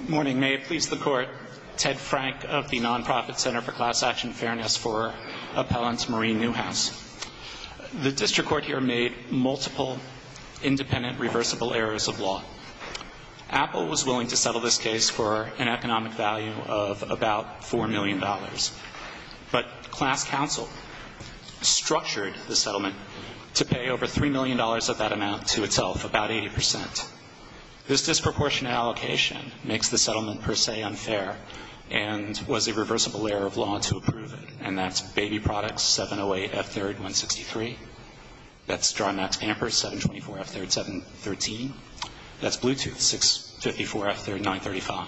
Good morning. May it please the Court, Ted Frank of the Nonprofit Center for Class Action Fairness for Appellant Marie Newhouse. The District Court here made multiple independent reversible errors of law. Apple was willing to settle this case for an economic value of about $4 million, but class counsel structured the settlement to pay over $3 million of that amount to itself, about 80%. This disproportionate allocation makes the settlement per se unfair and was a reversible error of law to approve it. And that's Baby Products, 708F3163. That's Draw Max Pampers, 724F3713. That's Bluetooth, 654F3935.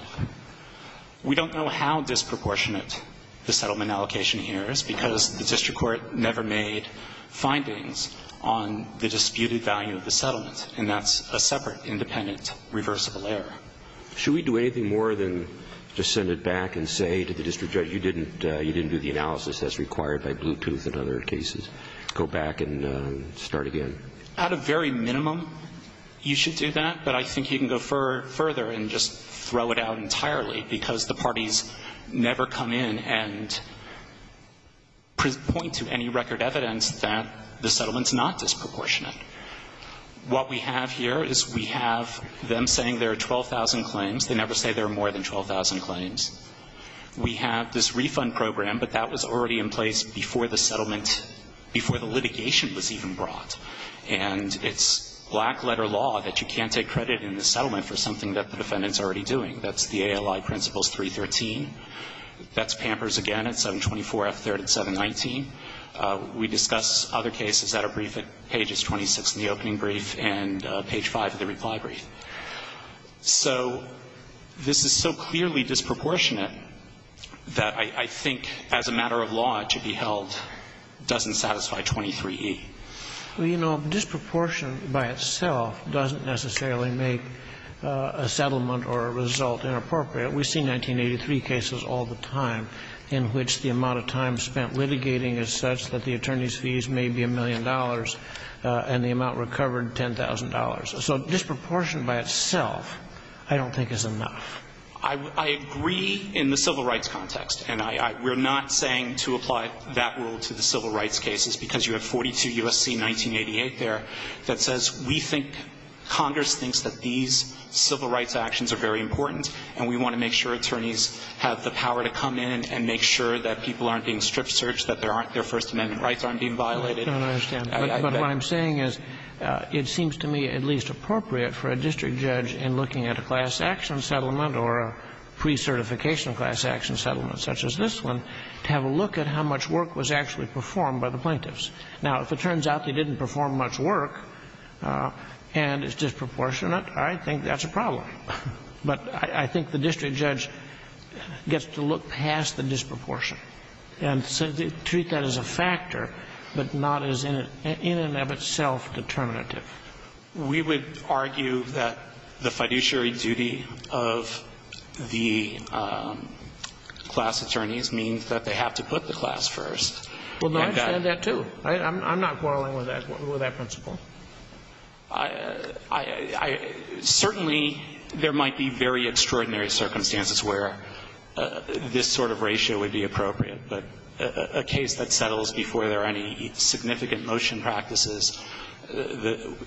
We don't know how disproportionate the settlement allocation here is because the District Court never made findings on the disputed value of the settlement, and that's a separate independent reversible error. Should we do anything more than just send it back and say to the District Judge, you didn't do the analysis that's required by Bluetooth and other cases? Go back and start again? At a very minimum, you should do that, but I think you can go further and just throw it out entirely because the parties never come in and point to any record evidence that the settlement's not disproportionate. What we have here is we have them saying there are 12,000 claims. They never say there are more than 12,000 claims. We have this refund program, but that was already in place before the settlement, before the litigation was even brought. And it's black-letter law that you can't take credit in the settlement for something that the defendant's already doing. That's the ALI Principles 313. That's Pampers again at 724F3rd and 719. We discuss other cases that are briefed at pages 26 in the opening brief and page 5 of the reply brief. So this is so clearly disproportionate that I think as a matter of law, to be held doesn't satisfy 23E. Well, you know, disproportionate by itself doesn't necessarily make a settlement or a result inappropriate. We see 1983 cases all the time in which the amount of time spent litigating is such that the attorney's fees may be a million dollars and the amount recovered, $10,000. So disproportionate by itself I don't think is enough. I agree in the civil rights context. And I we're not saying to apply that rule to the civil rights cases because you have 42 U.S.C. 1988 there that says we think Congress thinks that these civil rights actions are very important and we want to make sure attorneys have the power to come in and make sure that people aren't being strip searched, that their first amendment rights aren't being violated. I don't understand. But what I'm saying is it seems to me at least appropriate for a district judge in looking at a class action settlement or a pre-certification class action settlement such as this one to have a look at how much work was actually performed by the plaintiffs. Now, if it turns out they didn't perform much work and it's disproportionate, I think that's a problem. But I think the district judge gets to look past the disproportion and treat that as a factor, but not as in and of itself determinative. We would argue that the fiduciary duty of the class attorneys means that they have to put the class first. Well, I understand that, too. I'm not quarreling with that principle. I certainly there might be very extraordinary circumstances where this sort of ratio would be appropriate, but a case that settles before there are any significant motion practices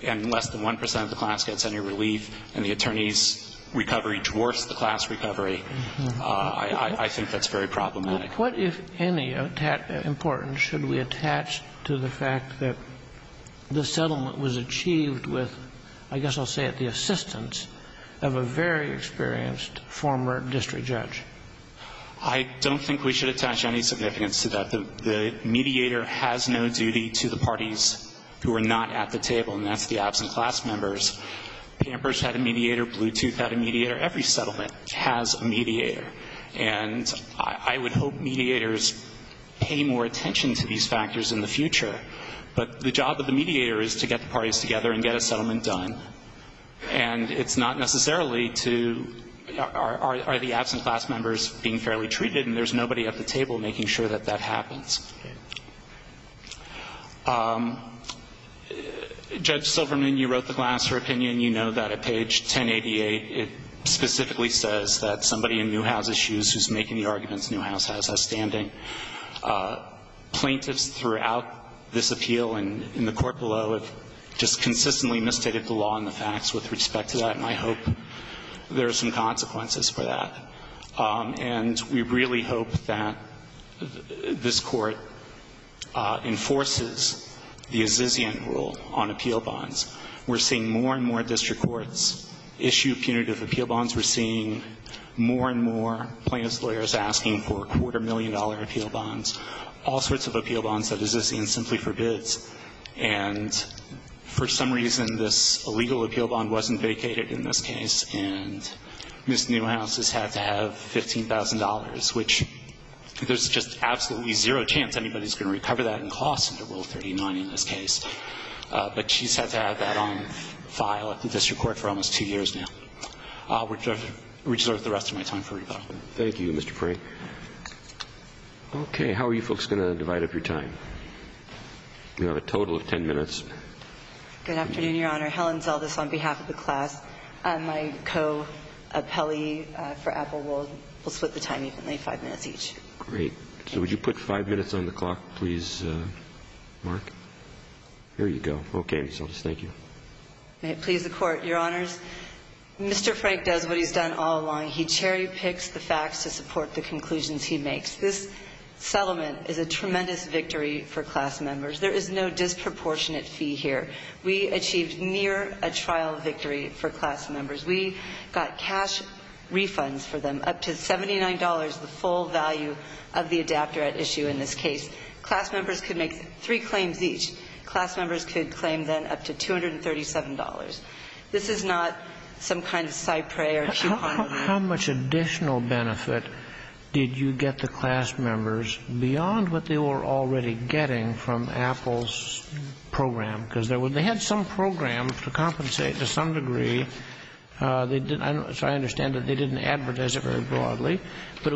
and less than 1 percent of the class gets any relief and the attorney's recovery dwarfs the class recovery, I think that's very problematic. What, if any, importance should we attach to the fact that the settlement was achieved with, I guess I'll say it, the assistance of a very experienced former district judge? I don't think we should attach any significance to that. The mediator has no duty to the parties who are not at the table, and that's the absent class members. Pampers had a mediator, and I hope mediators pay more attention to these factors in the future, but the job of the mediator is to get the parties together and get a settlement done, and it's not necessarily to, are the absent class members being fairly treated, and there's nobody at the table making sure that that happens. Judge Silverman, you wrote the Glasser opinion. You know that at page 1088, it specifically says that somebody in Newhouse issues who's making the arguments Newhouse has, has standing. Plaintiffs throughout this appeal and in the court below have just consistently misstated the law and the facts with respect to that, and I hope there are some consequences for that. And we really hope that this court enforces the Azizian rule on appeal bonds. We're seeing more and more district courts issue punitive appeal bonds. We're seeing more and more plaintiffs' lawyers asking for quarter-million-dollar appeal bonds, all sorts of appeal bonds that Azizian simply forbids. And for some reason, this illegal appeal bond wasn't vacated in this case, and Ms. Newhouse has had to have $15,000, which there's just absolutely zero chance anybody's going to recover that in class under Rule 39 in this case. But she's had to have that on file at the district court for almost two years now, which I've reserved the rest of my time for rebuttal. Thank you, Mr. Frey. Okay, how are you folks going to divide up your time? You have a total of ten minutes. Good afternoon, Your Honor. Helen Zeldes on behalf of the class. My co-appellee for Apple will split the time evenly, five minutes each. Great. So would you put five minutes on the clock, please, Mark? There you go. Okay, Ms. Zeldes. Thank you. May it please the Court. Your Honors, Mr. Frank does what he's done all along. He cherry-picks the facts to support the conclusions he makes. This settlement is a tremendous victory for class members. There is no disproportionate fee here. We achieved near a trial victory for class members. We got cash refunds for them, up to $79, the full value of the adapter at issue in this case. Class members could make three claims each. Class members could claim then up to $237. This is not some kind of Cypre or coupon. How much additional benefit did you get the class members beyond what they were already getting from Apple's program? Because they had some program to compensate to some But it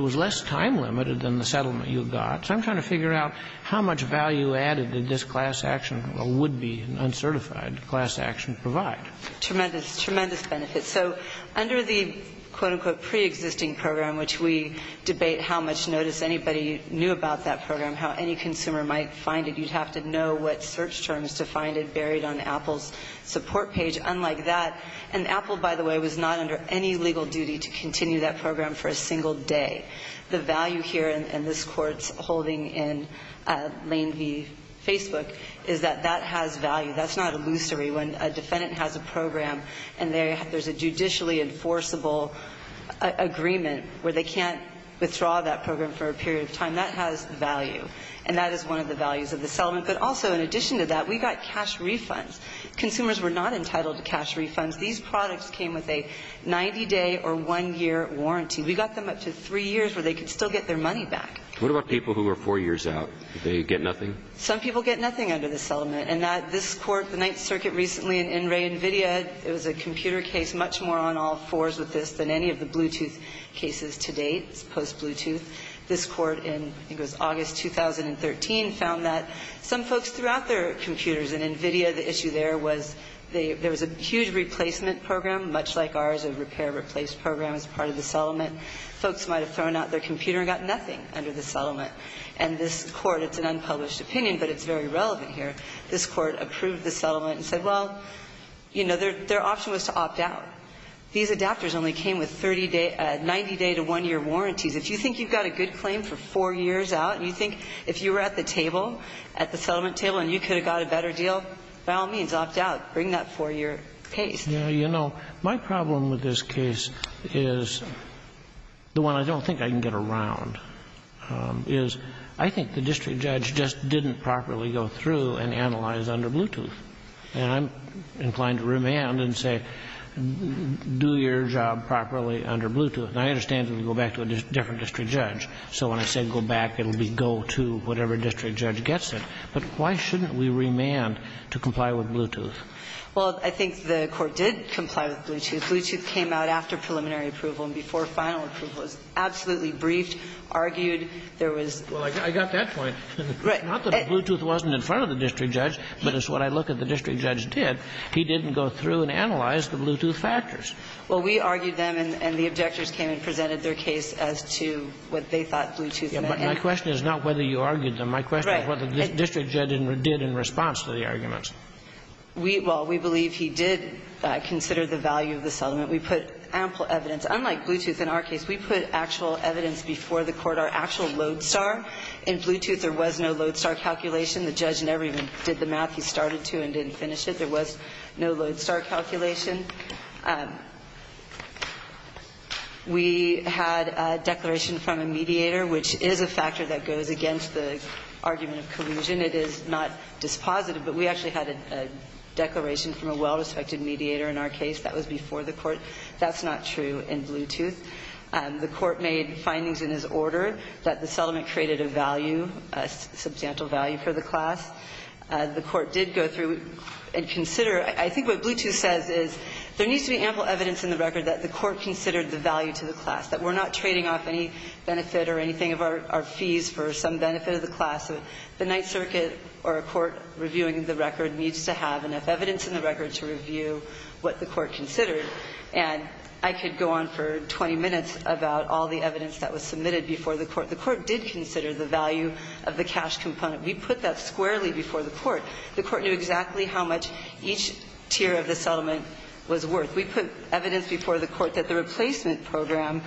was less time-limited than the settlement you got. So I'm trying to figure out how much value added did this class action, or would be an uncertified class action, provide? Tremendous. Tremendous benefit. So under the, quote, unquote, preexisting program, which we debate how much notice anybody knew about that program, how any consumer might find it, you'd have to know what search terms to find it buried on Apple's support page. Unlike that, and Apple, by the way, was not under any legal duty to continue that program for a single day. The value here, and this Court's holding in Lane v. Facebook, is that that has value. That's not illusory. When a defendant has a program and there's a judicially enforceable agreement where they can't withdraw that program for a period of time, that has value. And that is one of the values of the settlement. But also, in addition to that, we got cash refunds. Consumers were not entitled to cash refunds. These products came with a 90-day or one-year warranty. We got them up to three years where they could still get their money back. What about people who were four years out? Did they get nothing? Some people get nothing under this settlement. And that this Court, the Ninth Circuit recently, in Enray, NVIDIA, it was a computer case, much more on all fours with this than any of the Bluetooth cases to date. It's post-Bluetooth. This Court in, I think it was August 2013, found that some folks threw out their computer and got nothing under the settlement. And this Court, it's an unpublished opinion, but it's very relevant here, this Court approved the settlement and said, well, you know, their option was to opt out. These adapters only came with 30-day 90-day to one-year warranties. If you think you've got a good claim for four years out, and you think if you were at the table, at the settlement table, and you could have got a better deal, by all means, opt out. Bring that four-year warranty. And that's the case. Yeah. You know, my problem with this case is the one I don't think I can get around is I think the district judge just didn't properly go through and analyze under Bluetooth. And I'm inclined to remand and say, do your job properly under Bluetooth. And I understand if you go back to a different district judge. So when I say go back, it'll be go to whatever district judge gets it. But why shouldn't we remand to comply with Bluetooth? Well, I think the Court did comply with Bluetooth. Bluetooth came out after preliminary approval and before final approval. It was absolutely briefed, argued. There was – Well, I got that point. Right. Not that Bluetooth wasn't in front of the district judge, but it's what I look at the district judge did. He didn't go through and analyze the Bluetooth factors. Well, we argued them, and the objectors came and presented their case as to what they thought Bluetooth meant. Yeah, but my question is not whether you argued them. Right. My question is whether the district judge did in response to the arguments. We – well, we believe he did consider the value of the settlement. We put ample evidence. Unlike Bluetooth in our case, we put actual evidence before the Court, our actual lodestar. In Bluetooth, there was no lodestar calculation. The judge never even did the math he started to and didn't finish it. There was no lodestar calculation. We had a declaration from a mediator, which is a factor that goes against the statute. We had a declaration from a well-respected mediator in our case that was before the Court. That's not true in Bluetooth. The Court made findings in his order that the settlement created a value, a substantial value for the class. The Court did go through and consider – I think what Bluetooth says is there needs to be ample evidence in the record that the Court considered the value to the class, that we're not trading off any benefit or anything of our fees for some benefit of the class. The Ninth Circuit or a court reviewing the record needs to have enough evidence in the record to review what the Court considered. And I could go on for 20 minutes about all the evidence that was submitted before the Court. The Court did consider the value of the cash component. We put that squarely before the Court. The Court knew exactly how much each tier of the settlement was worth. We put evidence before the Court that the replacement program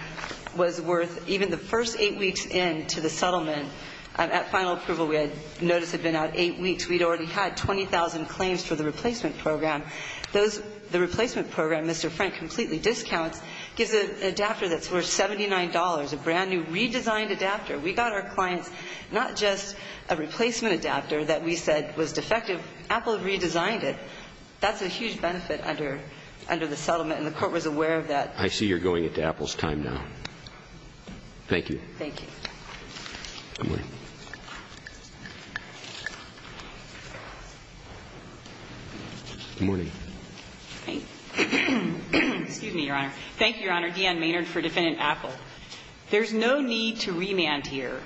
was worth even the first eight weeks into the settlement. At final approval, we had noticed it had been out eight weeks. We'd already had 20,000 claims for the replacement program. The replacement program, Mr. Frank completely discounts, gives an adapter that's worth $79, a brand new redesigned adapter. We got our clients not just a replacement adapter that we said was defective. Apple redesigned it. That's a huge benefit under the settlement, and the Court was aware of that. I see you're going into Apple's time now. Thank you. Thank you. Good morning. Good morning. Thank you. Excuse me, Your Honor. Thank you, Your Honor. Deanne Maynard for Defendant Apple. There's no need to remand here.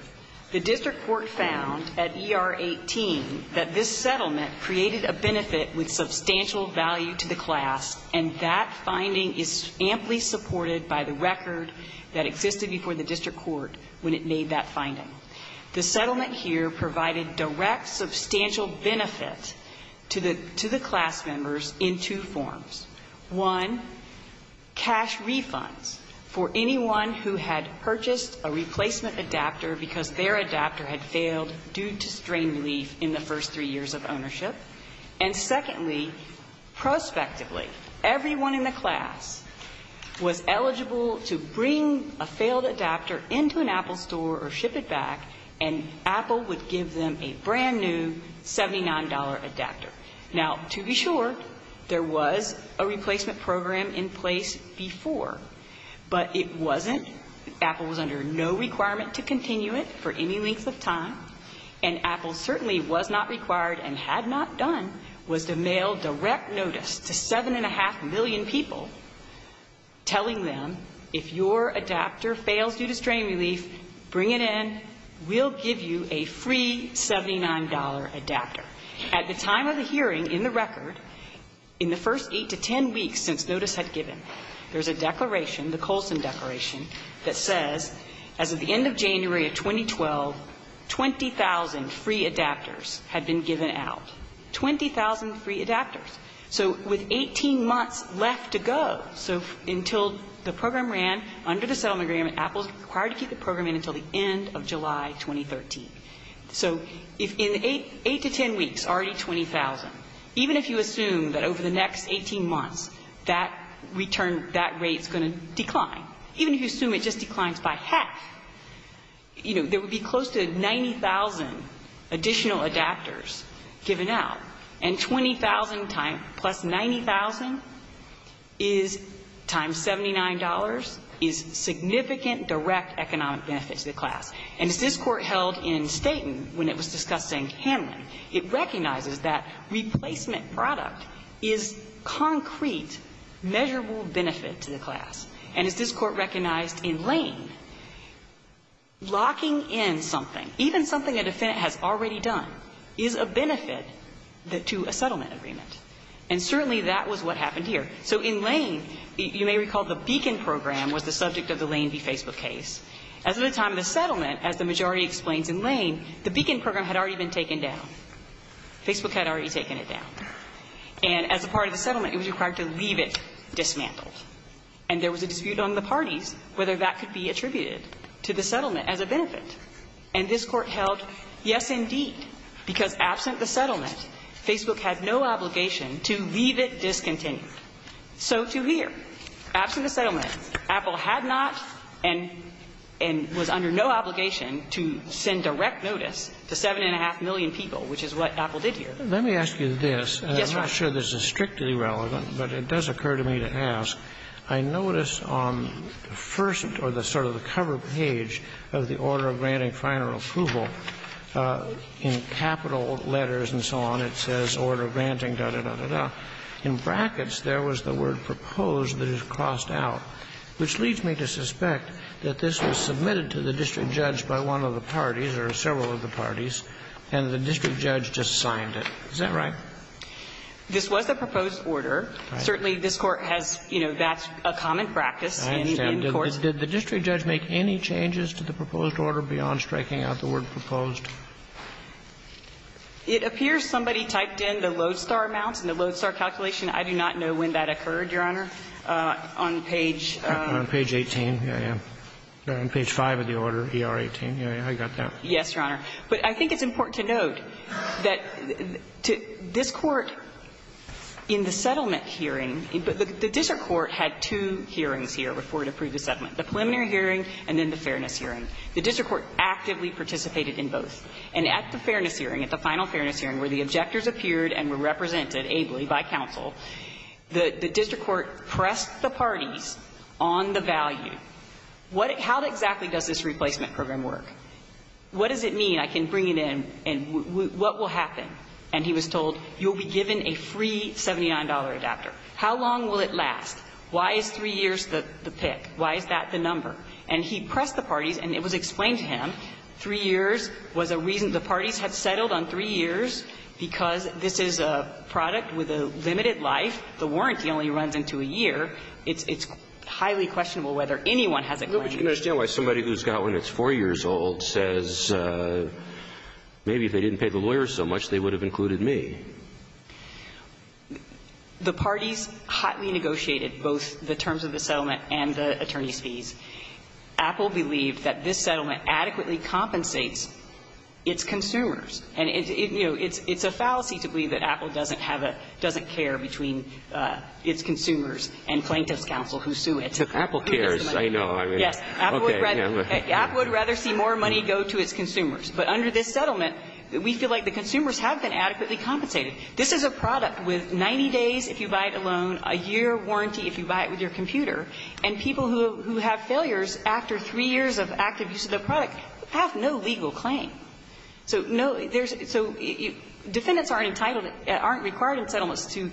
The district court found at ER 18 that this settlement created a benefit with substantial value to the class, and that finding is amply supported by the record that existed before the district court when it made that finding. The settlement here provided direct substantial benefit to the class members in two forms. One, cash refunds for anyone who had purchased a replacement adapter because their adapter had failed due to strain relief in the first three years of ownership. And secondly, prospectively, everyone in the class was eligible to bring a failed adapter into an Apple store or ship it back, and Apple would give them a brand new $79 adapter. Now, to be sure, there was a replacement program in place before, but it wasn't. Apple was under no requirement to continue it for any length of time, and what Apple had done, and had not done, was to mail direct notice to 7.5 million people telling them, if your adapter fails due to strain relief, bring it in, we'll give you a free $79 adapter. At the time of the hearing, in the record, in the first eight to ten weeks since notice had given, there's a declaration, the Colson Declaration, that says, as of the end of January of 2012, 20,000 free adapters had been given out. 20,000 free adapters. So with 18 months left to go, so until the program ran under the settlement agreement, Apple is required to keep the program in until the end of July 2013. So in eight to ten weeks, already 20,000. Even if you assume that over the next 18 months, that return, that rate's going to decline. Even if you assume it just declines by half, you know, there would be close to 90,000 additional adapters given out. And 20,000 times, plus 90,000, is times $79, is significant direct economic benefit to the class. And as this Court held in Staten when it was discussing Hanlon, it recognizes that replacement product is concrete, measurable benefit to the class. And as this Court recognized in Lane, locking in something, even something a defendant has already done, is a benefit to a settlement agreement. And certainly, that was what happened here. So in Lane, you may recall the Beacon Program was the subject of the Lane v. Facebook case. As of the time of the settlement, as the majority explains in Lane, the Beacon Program had already been taken down. Facebook had already taken it down. And as a part of the settlement, Apple had to leave it dismantled. And there was a dispute on the parties whether that could be attributed to the settlement as a benefit. And this Court held, yes, indeed, because absent the settlement, Facebook had no obligation to leave it discontinued. So to here, absent the settlement, Apple had not and was under no obligation to send direct notice to 7.5 million people, which is what Apple did here. Let me ask you this. I'm not sure this is strictly relevant, but it does occur to me to ask. I notice on the first or sort of the cover page of the order of granting final approval, in capital letters and so on, it says order of granting, da, da, da, da, da. In brackets, there was the word proposed that is crossed out, which leads me to suspect that this was submitted to the district judge by one of the parties or several of the parties and the district judge just signed it. Is that right? This was the proposed order. Certainly, this Court has, you know, that's a common practice in court. I understand. Did the district judge make any changes to the proposed order beyond striking out the word proposed? It appears somebody typed in the Lodestar amounts and the Lodestar calculation. I do not know when that occurred, Your Honor, on page... On page 18. Yeah, yeah. On page 5 of the order, ER18. Yeah, yeah. I got that. Yes, Your Honor. But I think it's important to note that this Court, in the settlement hearing, the district court had two hearings here before it approved the settlement, the preliminary hearing and then the fairness hearing. The district court actively participated in both. And at the fairness hearing, at the final fairness hearing, where the objectors appeared and were represented ably by counsel, the district court pressed the parties on the value. Now, how exactly does this replacement program work? What does it mean? I can bring it in. And what will happen? And he was told, you'll be given a free $79 adapter. How long will it last? Why is three years the pick? Why is that the number? And he pressed the parties, and it was explained to him, three years was a reason the parties had settled on three years because this is a product with a limited The warranty only runs into a year. It's highly questionable whether anyone has a claim. But you can understand why somebody who's got one that's four years old says maybe if they didn't pay the lawyers so much, they would have included me. The parties hotly negotiated both the terms of the settlement and the attorney's fees. Apple believed that this settlement adequately compensates its consumers. And, you know, it's a fallacy to believe that Apple doesn't have a – doesn't care between its consumers and plaintiff's counsel who sue it. Apple cares, I know. Yes. Apple would rather see more money go to its consumers. But under this settlement, we feel like the consumers have been adequately compensated. This is a product with 90 days if you buy it alone, a year warranty if you buy it with your computer. And people who have failures after three years of active use of the product have no legal claim. So no, there's – so defendants aren't entitled – aren't required in settlements to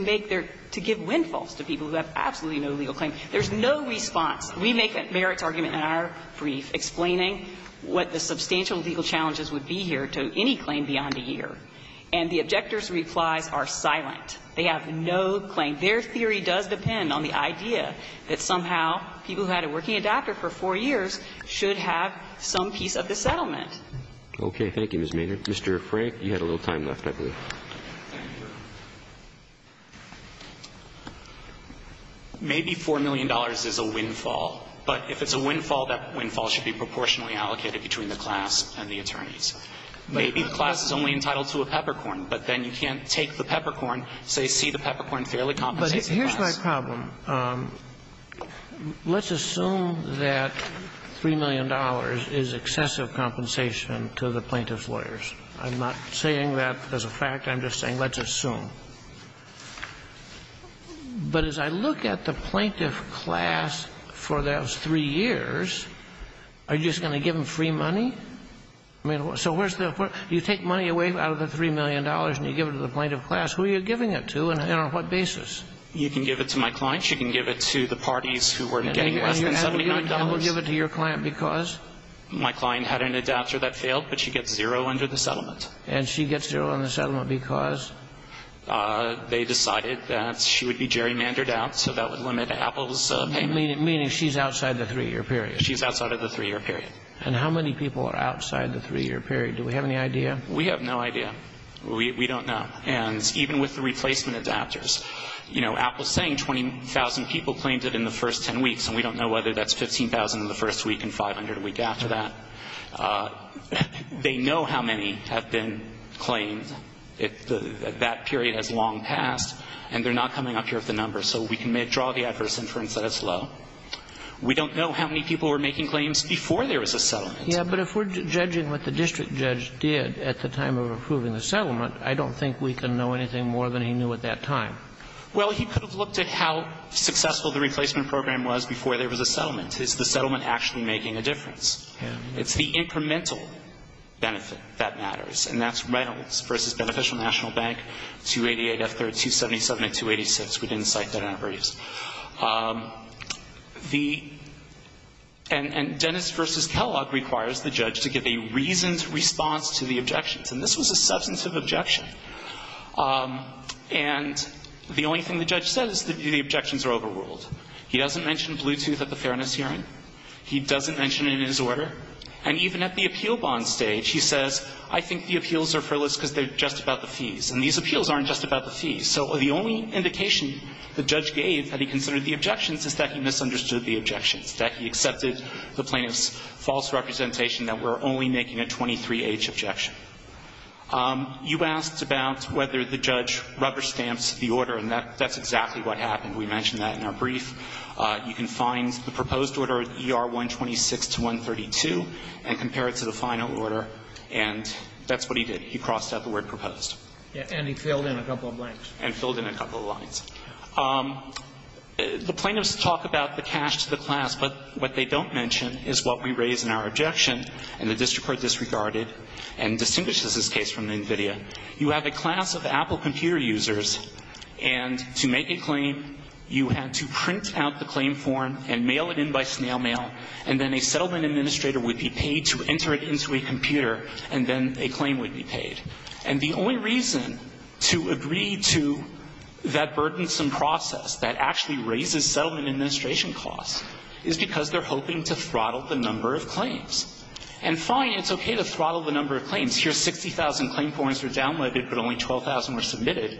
make their – to give windfalls to people who have absolutely no legal claim. There's no response. We make a merits argument in our brief explaining what the substantial legal challenges would be here to any claim beyond a year. And the objector's replies are silent. They have no claim. Their theory does depend on the idea that somehow people who had a working adapter for four years should have some piece of the settlement. Okay. Thank you, Ms. Maynard. Mr. Frank, you had a little time left, I believe. Maybe $4 million is a windfall. But if it's a windfall, that windfall should be proportionally allocated between the class and the attorneys. Maybe the class is only entitled to a peppercorn. But then you can't take the peppercorn, say, see the peppercorn fairly compensated class. But here's my problem. Let's assume that $3 million is excessive compensation to the plaintiff's lawyers. I'm not saying that as a fact. I'm just saying let's assume. But as I look at the plaintiff class for those three years, are you just going to give them free money? I mean, so where's the – you take money away out of the $3 million and you give it to the plaintiff class. Who are you giving it to and on what basis? You can give it to my client. She can give it to the parties who were getting less than $79. And you're going to double give it to your client because? My client had an adapter that failed, but she gets zero under the settlement. And she gets zero under the settlement because? They decided that she would be gerrymandered out, so that would limit Apple's payment. Meaning she's outside the three-year period. She's outside of the three-year period. And how many people are outside the three-year period? Do we have any idea? We have no idea. We don't know. And even with the replacement adapters, you know, Apple is saying 20,000 people claimed it in the first 10 weeks, and we don't know whether that's 15,000 in the first week and 500 a week after that. They know how many have been claimed. That period has long passed, and they're not coming up here with the numbers, so we can draw the adverse inference that it's low. We don't know how many people were making claims before there was a settlement. Yeah, but if we're judging what the district judge did at the time of approving the settlement, I don't think we can know anything more than he knew at that time. Well, he could have looked at how successful the replacement program was before there was a settlement. Is the settlement actually making a difference? Yeah. It's the incremental benefit that matters. And that's Reynolds v. Beneficial National Bank, 288 F. 3rd, 277 and 286. We didn't cite that in our briefs. The – and Dennis v. Kellogg requires the judge to give a reasoned response to the objections. And this was a substantive objection. And the only thing the judge says is the objections are overruled. He doesn't mention Bluetooth at the fairness hearing. He doesn't mention it in his order. And even at the appeal bond stage, he says, I think the appeals are frivolous because they're just about the fees. And these appeals aren't just about the fees. So the only indication the judge gave that he considered the objections is that he misunderstood the objections, that he accepted the plaintiff's false representation that we're only making a 23H objection. You asked about whether the judge rubber stamps the order. And that's exactly what happened. We mentioned that in our brief. You can find the proposed order, ER 126 to 132, and compare it to the final order. And that's what he did. He crossed out the word proposed. Yeah. And he filled in a couple of blanks. And filled in a couple of lines. The plaintiffs talk about the cash to the class. But what they don't mention is what we raise in our objection. And the district court disregarded and distinguishes this case from the NVIDIA. You have a class of Apple computer users. And to make a claim, you had to print out the claim form and mail it in by snail mail. And then a settlement administrator would be paid to enter it into a computer. And then a claim would be paid. And the only reason to agree to that burdensome process that actually raises settlement administration costs is because they're hoping to throttle the number of claims. And fine, it's okay to throttle the number of claims. Here's 60,000 claim points were downloaded, but only 12,000 were submitted.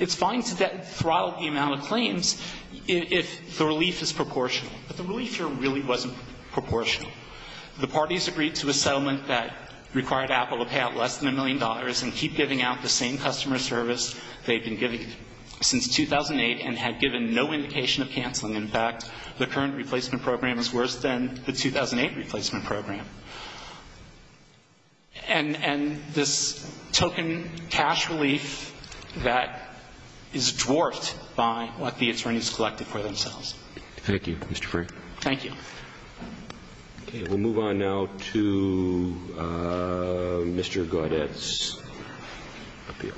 It's fine to throttle the amount of claims if the relief is proportional. But the relief here really wasn't proportional. The parties agreed to a settlement that required Apple to pay out less than a million dollars and keep giving out the same customer service they've been giving since 2008 and had given no indication of canceling. In fact, the current replacement program is worse than the 2008 replacement program. And this token cash relief that is dwarfed by what the attorneys collected for themselves. Thank you, Mr. Frank. Thank you. Okay. We'll move on now to Mr. Gaudet's appeal.